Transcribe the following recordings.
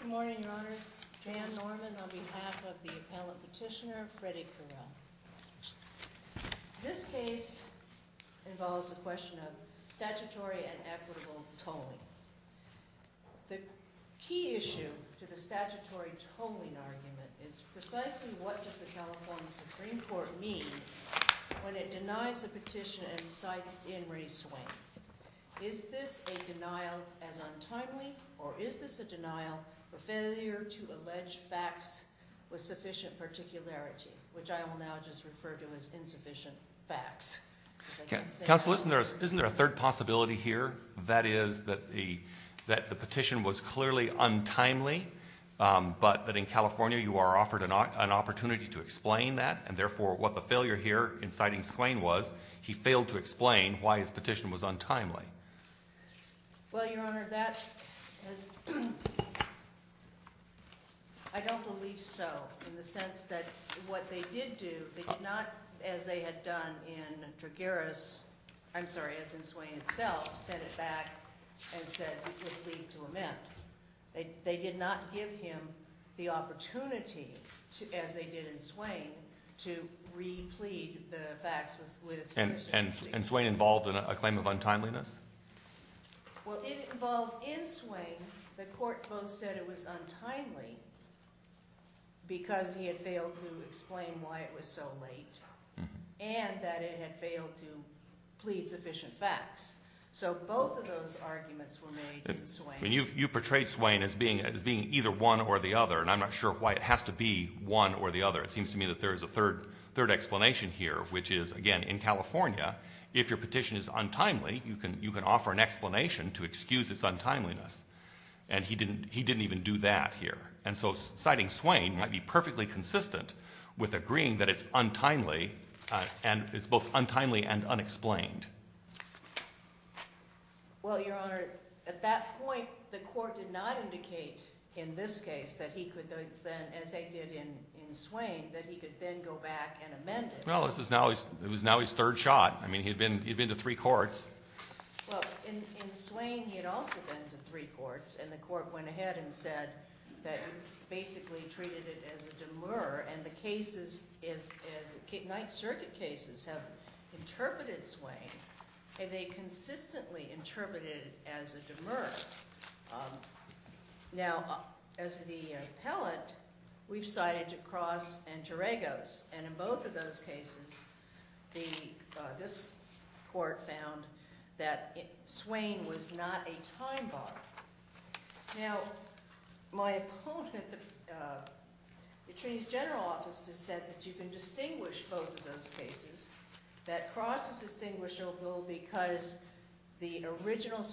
Good morning, your honors. Jan Norman on behalf of the appellate petitioner, Freddie Curiel. This case involves the question of statutory and equitable tolling. The key issue to the statutory tolling argument is precisely what does the California Supreme Court mean when it denies a petition and cites Dan Ray Swain? Is this a denial as untimely or is this a denial for failure to allege facts with sufficient particularity, which I will now just refer to as insufficient facts? Counsel, isn't there a third possibility here? That is that the petition was clearly untimely, but in California you are offered an opportunity to explain that, and therefore what the failure here in citing Swain was, he failed to explain why his petition was untimely. Well, your honor, I don't believe so in the sense that what they did do, they did not, as they had done in Swain itself, set it back and said it would leave to amend. They did not give him the opportunity, as they did in Swain, to re-plead the facts with sufficient... And Swain involved in a claim of untimeliness? Well, it involved in Swain, the court both said it was untimely because he had failed to explain why it was so late and that it had failed to plead sufficient facts. You've portrayed Swain as being either one or the other, and I'm not sure why it has to be one or the other. It seems to me that there is a third explanation here, which is, again, in California, if your petition is untimely, you can offer an explanation to excuse its untimeliness. And he didn't even do that here. And so citing Swain might be perfectly consistent with agreeing that it's untimely, and it's both untimely and unexplained. Well, Your Honor, at that point, the court did not indicate in this case, as they did in Swain, that he could then go back and amend it. Well, it was now his third shot. I mean, he had been to three courts. Well, in Swain, he had also been to three courts, and the court went ahead and said that it basically treated it as a demur. And the cases, the Ninth Circuit cases, have interpreted Swain, and they consistently interpreted it as a demur. Now, as the appellant, we've cited DeCrosse and Teregos, and in both of those cases, this court found that Swain was not a time bomb. Now, my opponent, the Attorney's General Office, has said that you can distinguish both of those cases. That DeCrosse is distinguishable because the original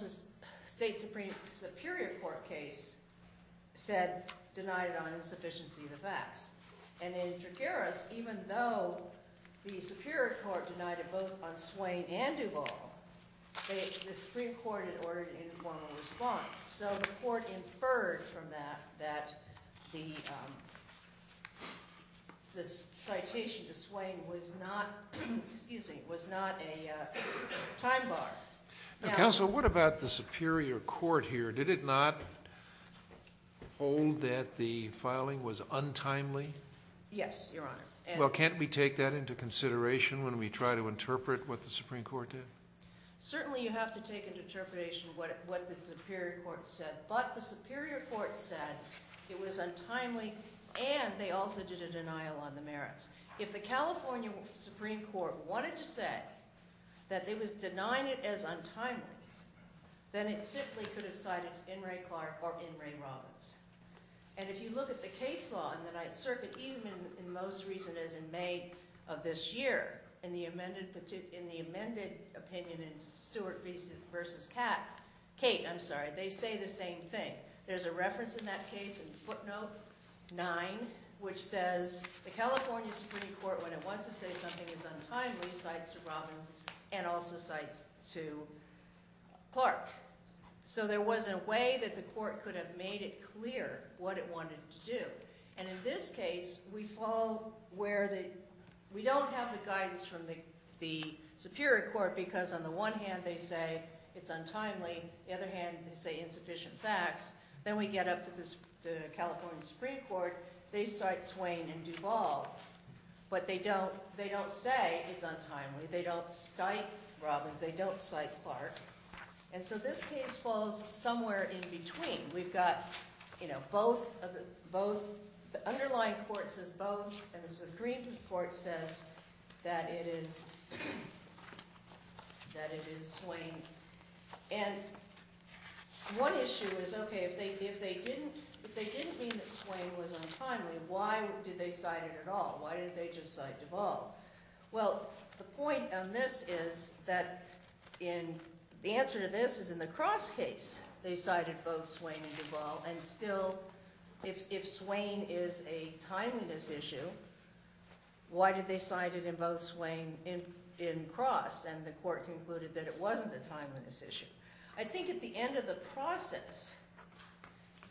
State Superior Court case said, denied on insufficiency of the facts. And in DeGaris, even though the Superior Court denied it both on Swain and Duvall, the Supreme Court had ordered an informal response. So the court inferred from that that the citation to Swain was not a time bomb. Now, Counsel, what about the Superior Court here? Did it not hold that the filing was untimely? Yes, Your Honor. Well, can't we take that into consideration when we try to interpret what the Supreme Court did? Certainly, you have to take into interpretation what the Superior Court said. But the Superior Court said it was untimely, and they also did a denial on the merits. If the California Supreme Court wanted to say that it was denying it as untimely, then it simply could have cited In re Clark or In re Robbins. And if you look at the case law in the Ninth Circuit, even in most recent, as in May of this year, in the amended opinion in Stewart v. Cate, they say the same thing. There's a reference in that case in footnote 9, which says the California Supreme Court, when it wants to say something is untimely, cites to Robbins and also cites to Clark. So there was a way that the court could have made it clear what it wanted to do. And in this case, we don't have the guidance from the Superior Court, because on the one hand, they say it's untimely. The other hand, they say insufficient facts. Then we get up to the California Supreme Court. They cite Swain and Duval. But they don't say it's untimely. They don't cite Robbins. They don't cite Clark. And so this case falls somewhere in between. We've got both of the underlying court says both, and the Supreme Court says that it is Swain. And one issue is, okay, if they didn't mean that Swain was untimely, why did they cite it at all? Why did they just cite Duval? Well, the point on this is that the answer to this is in the Cross case, they cited both Swain and Duval. And still, if Swain is a timeliness issue, why did they cite it in both Swain and Cross? And the court concluded that it wasn't a timeliness issue. I think at the end of the process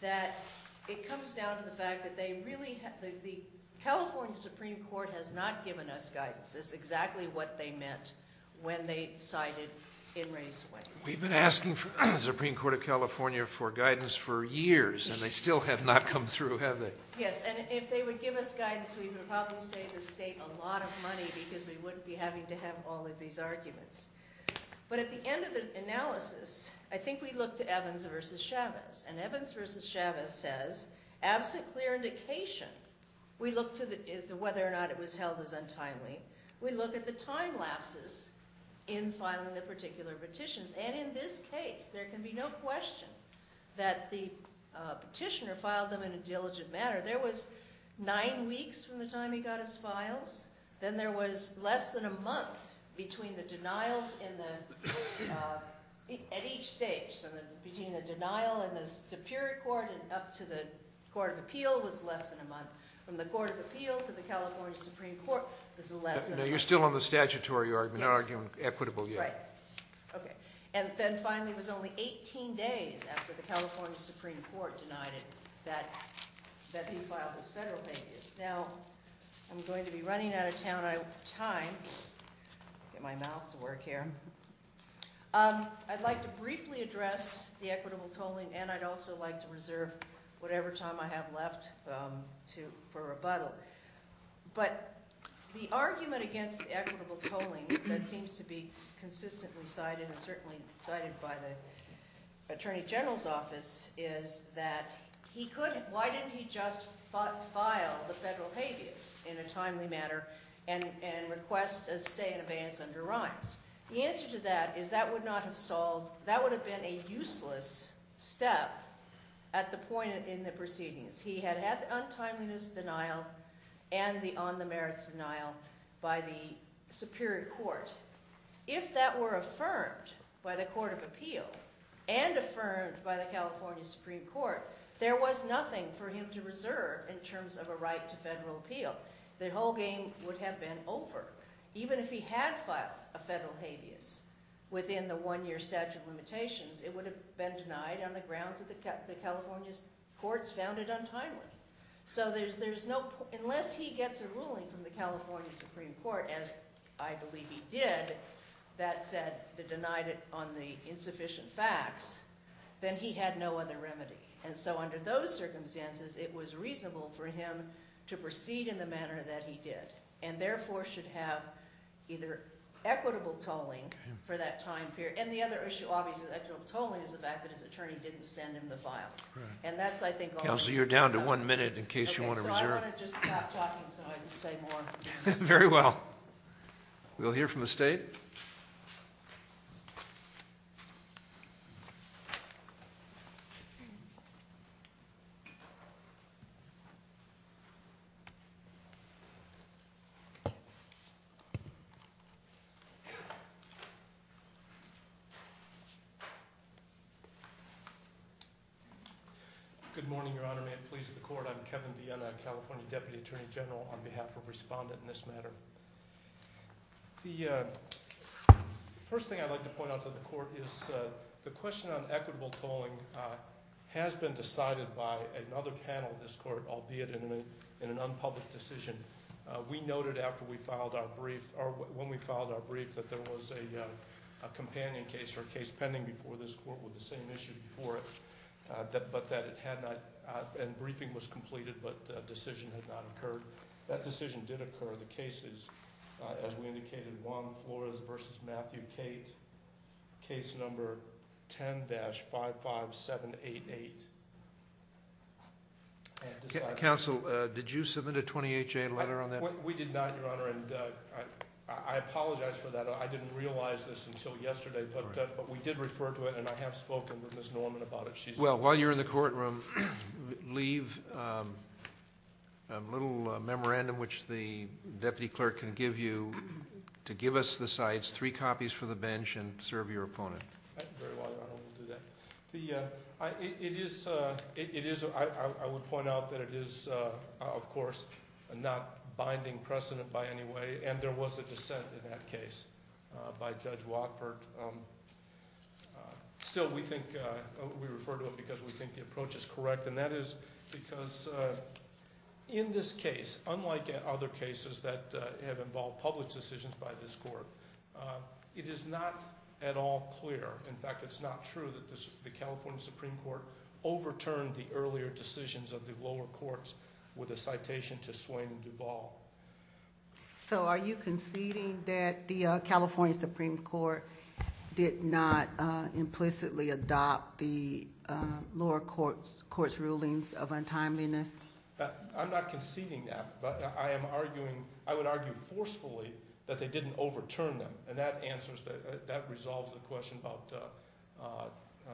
that it comes down to the fact that the California Supreme Court has not given us guidance. That's exactly what they meant when they cited In Re Swain. We've been asking the Supreme Court of California for guidance for years, and they still have not come through, have they? Yes, and if they would give us guidance, we would probably save the state a lot of money because we wouldn't be having to have all of these arguments. But at the end of the analysis, I think we look to Evans v. Chavez. And Evans v. Chavez says, absent clear indication, we look to whether or not it was held as untimely. We look at the time lapses in filing the particular petitions. And in this case, there can be no question that the petitioner filed them in a diligent manner. There was nine weeks from the time he got his files. Then there was less than a month between the denials at each stage. So between the denial in the Superior Court and up to the Court of Appeal was less than a month. From the Court of Appeal to the California Supreme Court was less than a month. No, you're still on the statutory argument, not arguing equitable yet. That's right. Okay. And then finally it was only 18 days after the California Supreme Court denied it that he filed his federal pages. Now, I'm going to be running out of time. I'll get my mouth to work here. I'd like to briefly address the equitable tolling, and I'd also like to reserve whatever time I have left for rebuttal. But the argument against the equitable tolling that seems to be consistently cited and certainly cited by the Attorney General's Office is that he couldn't – why didn't he just file the federal habeas in a timely manner and request a stay in advance under rhymes? The answer to that is that would not have solved – that would have been a useless step at the point in the proceedings. He had had the untimeliness denial and the on-the-merits denial by the Superior Court. If that were affirmed by the Court of Appeal and affirmed by the California Supreme Court, there was nothing for him to reserve in terms of a right to federal appeal. The whole game would have been over. Even if he had filed a federal habeas within the one-year statute of limitations, it would have been denied on the grounds that the California courts found it untimely. So there's no – unless he gets a ruling from the California Supreme Court, as I believe he did, that said – that denied it on the insufficient facts, then he had no other remedy. And so under those circumstances, it was reasonable for him to proceed in the manner that he did and therefore should have either equitable tolling for that time period – and the other issue, obviously, with equitable tolling is the fact that his attorney didn't send him the files. And that's, I think – Counselor, you're down to one minute in case you want to reserve. Okay, so I want to just stop talking so I can say more. Very well. We'll hear from the State. Good morning, Your Honor. May it please the Court. I'm Kevin Viena, California Deputy Attorney General, on behalf of Respondent in this matter. The first thing I'd like to point out to the Court is the question on equitable tolling has been decided by another panel of this Court, albeit in an unpublished decision. We noted after we filed our brief – or when we filed our brief that there was a companion case or a case pending before this Court with the same issue before it, but that it had not – and briefing was completed, but a decision had not occurred. That decision did occur. The case is, as we indicated, Juan Flores v. Matthew Cate, case number 10-55788. Counsel, did you submit a 28-J letter on that? We did not, Your Honor, and I apologize for that. I didn't realize this until yesterday, but we did refer to it, and I have spoken with Ms. Norman about it. Well, while you're in the courtroom, leave a little memorandum, which the Deputy Clerk can give you, to give us the sites, three copies for the bench, and serve your opponent. Very well, Your Honor. It is – I would point out that it is, of course, not binding precedent by any way, and there was a dissent in that case by Judge Watford. Still, we think – we refer to it because we think the approach is correct, and that is because in this case, unlike other cases that have involved published decisions by this Court, it is not at all clear. In fact, it's not true that the California Supreme Court overturned the earlier decisions of the lower courts with a citation to Swain and Duvall. So are you conceding that the California Supreme Court did not implicitly adopt the lower court's rulings of untimeliness? I'm not conceding that, but I am arguing – I would argue forcefully that they didn't overturn them, and that answers – that resolves the question about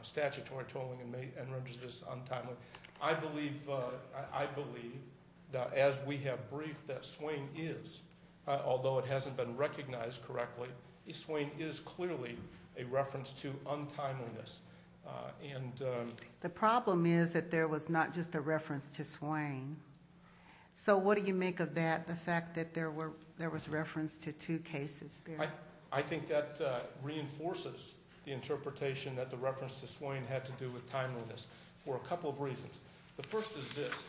statutory tolling and renders this untimely. I believe – I believe that as we have briefed that Swain is, although it hasn't been recognized correctly, Swain is clearly a reference to untimeliness, and – The problem is that there was not just a reference to Swain. So what do you make of that, the fact that there were – there was reference to two cases there? I think that reinforces the interpretation that the reference to Swain had to do with timeliness for a couple of reasons. The first is this.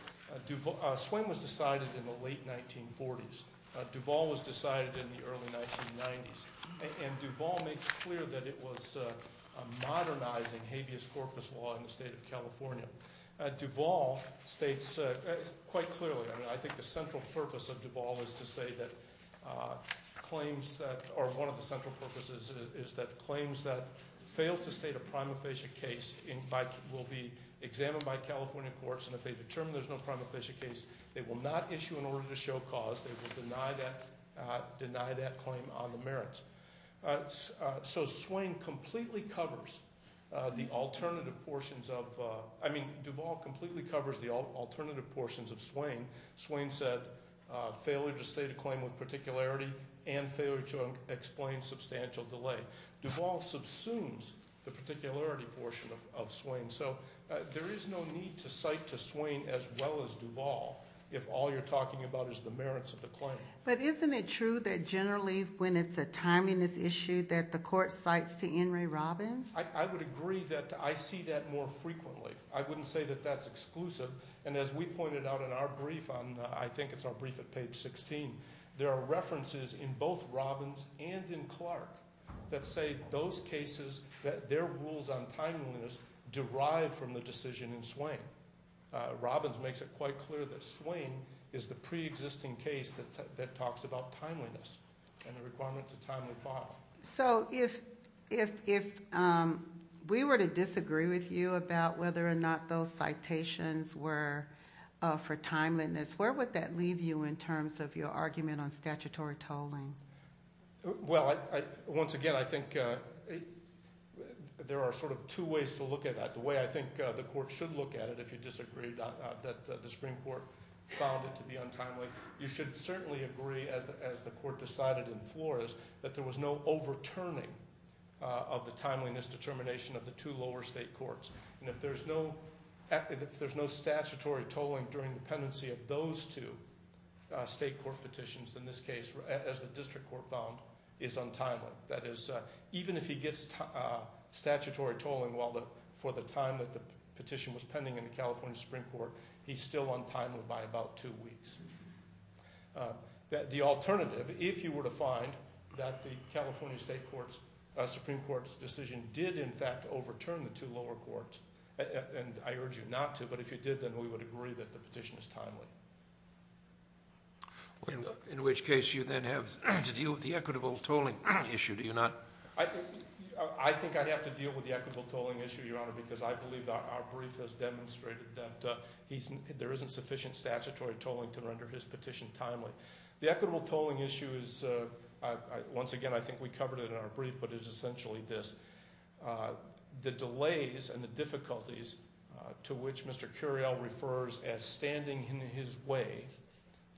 Duvall – Swain was decided in the late 1940s. Duvall was decided in the early 1990s. And Duvall makes clear that it was a modernizing habeas corpus law in the state of California. Duvall states quite clearly – I mean, I think the central purpose of Duvall is to say that claims that – or one of the central purposes is that claims that fail to state a prima facie case will be examined by California courts, and if they determine there's no prima facie case, they will not issue an order to show cause. They will deny that claim on the merits. So Swain completely covers the alternative portions of – I mean, Duvall completely covers the alternative portions of Swain. Swain said failure to state a claim with particularity and failure to explain substantial delay. Duvall subsumes the particularity portion of Swain. And so there is no need to cite to Swain as well as Duvall if all you're talking about is the merits of the claim. But isn't it true that generally when it's a timeliness issue that the court cites to Henry Robbins? I would agree that I see that more frequently. I wouldn't say that that's exclusive. And as we pointed out in our brief on – I think it's our brief at page 16 – there are references in both Robbins and in Clark that say those cases that their rules on timeliness derive from the decision in Swain. Robbins makes it quite clear that Swain is the preexisting case that talks about timeliness and the requirements of timeliness. So if we were to disagree with you about whether or not those citations were for timeliness, where would that leave you in terms of your argument on statutory tolling? Well, once again, I think there are sort of two ways to look at that. The way I think the court should look at it, if you disagree that the Supreme Court found it to be untimely, you should certainly agree, as the court decided in Flores, that there was no overturning of the timeliness determination of the two lower state courts. And if there's no statutory tolling during the pendency of those two state court petitions, then this case, as the district court found, is untimely. That is, even if he gets statutory tolling for the time that the petition was pending in the California Supreme Court, he's still untimely by about two weeks. The alternative, if you were to find that the California Supreme Court's decision did, in fact, overturn the two lower courts, and I urge you not to, but if you did, then we would agree that the petition is timely. In which case you then have to deal with the equitable tolling issue, do you not? I think I have to deal with the equitable tolling issue, Your Honor, because I believe our brief has demonstrated that there isn't sufficient statutory tolling to render his petition timely. The equitable tolling issue is, once again, I think we covered it in our brief, but it is essentially this. The delays and the difficulties to which Mr. Curiel refers as standing in his way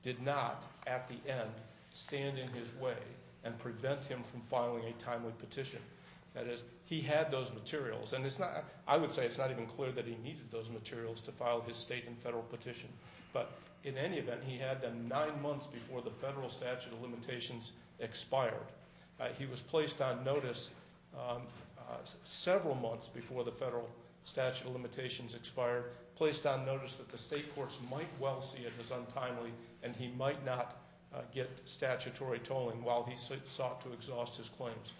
did not, at the end, stand in his way and prevent him from filing a timely petition. That is, he had those materials, and I would say it's not even clear that he needed those materials to file his state and federal petition, but in any event, he had them nine months before the federal statute of limitations expired. He was placed on notice several months before the federal statute of limitations expired, placed on notice that the state courts might well see it as untimely, and he might not get statutory tolling while he sought to exhaust his claims.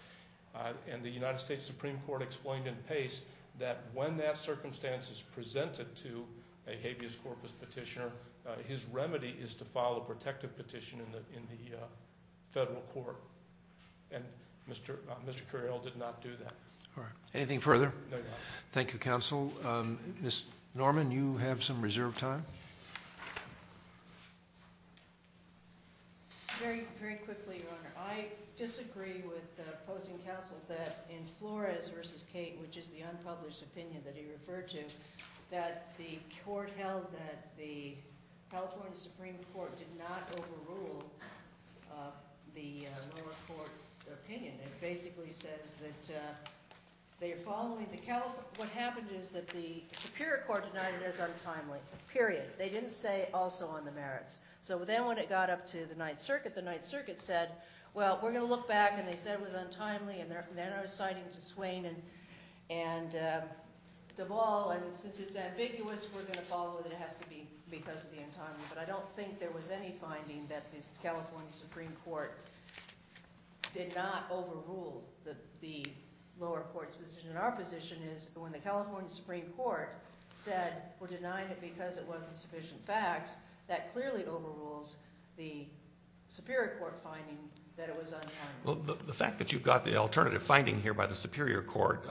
The United States Supreme Court explained in pace that when that circumstance is presented to a habeas corpus petitioner, his remedy is to file a protective petition in the federal court, and Mr. Curiel did not do that. Anything further? No, Your Honor. Thank you, counsel. Ms. Norman, you have some reserved time. Very quickly, Your Honor. I disagree with opposing counsel that in Flores v. Cate, which is the unpublished opinion that he referred to, that the court held that the California Supreme Court did not overrule the lower court opinion. It basically says that what happened is that the superior court denied it as untimely, period. They didn't say also on the merits. So then when it got up to the Ninth Circuit, the Ninth Circuit said, well, we're going to look back, and they said it was untimely, and then I was citing to Swain and Duvall, and since it's ambiguous, we're going to follow it. It has to be because of the untimely, but I don't think there was any finding that the California Supreme Court did not overrule the lower court's position. Our position is when the California Supreme Court said we're denying it because it wasn't sufficient facts, that clearly overrules the superior court finding that it was untimely. Well, the fact that you've got the alternative finding here by the superior court,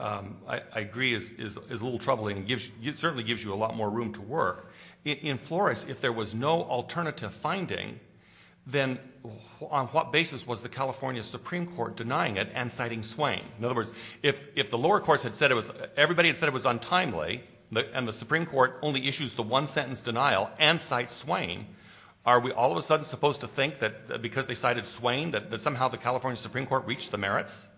I agree, is a little troubling. It certainly gives you a lot more room to work. In Flores, if there was no alternative finding, then on what basis was the California Supreme Court denying it and citing Swain? In other words, if the lower courts had said it was untimely, and the Supreme Court only issues the one-sentence denial and cites Swain, are we all of a sudden supposed to think that because they cited Swain that somehow the California Supreme Court reached the merits?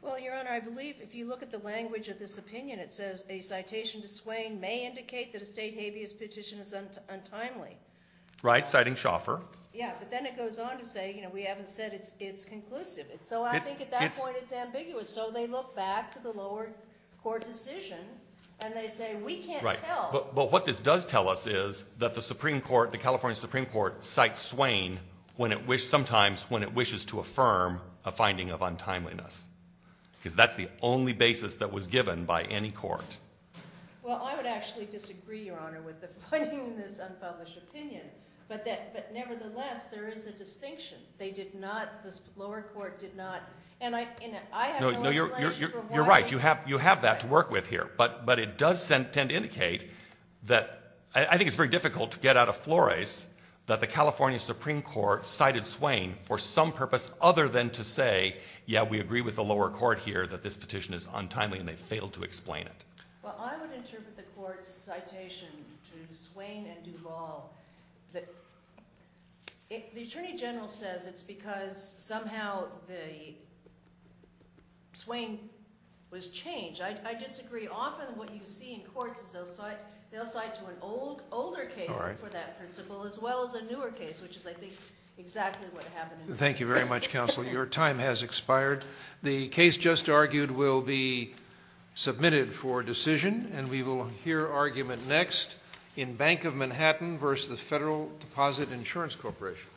Well, Your Honor, I believe if you look at the language of this opinion, it says a citation to Swain may indicate that a state habeas petition is untimely. Right, citing Shoffer. Yeah, but then it goes on to say we haven't said it's conclusive. So I think at that point it's ambiguous. So they look back to the lower court decision and they say we can't tell. But what this does tell us is that the California Supreme Court cites Swain sometimes when it wishes to affirm a finding of untimeliness because that's the only basis that was given by any court. Well, I would actually disagree, Your Honor, with the finding in this unpublished opinion, but nevertheless there is a distinction. They did not, the lower court did not, and I have no explanation for why. You're right. You have that to work with here. But it does tend to indicate that I think it's very difficult to get out of flores that the California Supreme Court cited Swain for some purpose other than to say, yeah, we agree with the lower court here that this petition is untimely and they failed to explain it. Well, I would interpret the court's citation to Swain and Duvall. The Attorney General says it's because somehow Swain was changed. I disagree. Often what you see in courts is they'll cite to an older case for that principle as well as a newer case, which is, I think, exactly what happened. Thank you very much, counsel. Your time has expired. The case just argued will be submitted for decision, and we will hear argument next in Bank of Manhattan versus the Federal Deposit Insurance Corporation.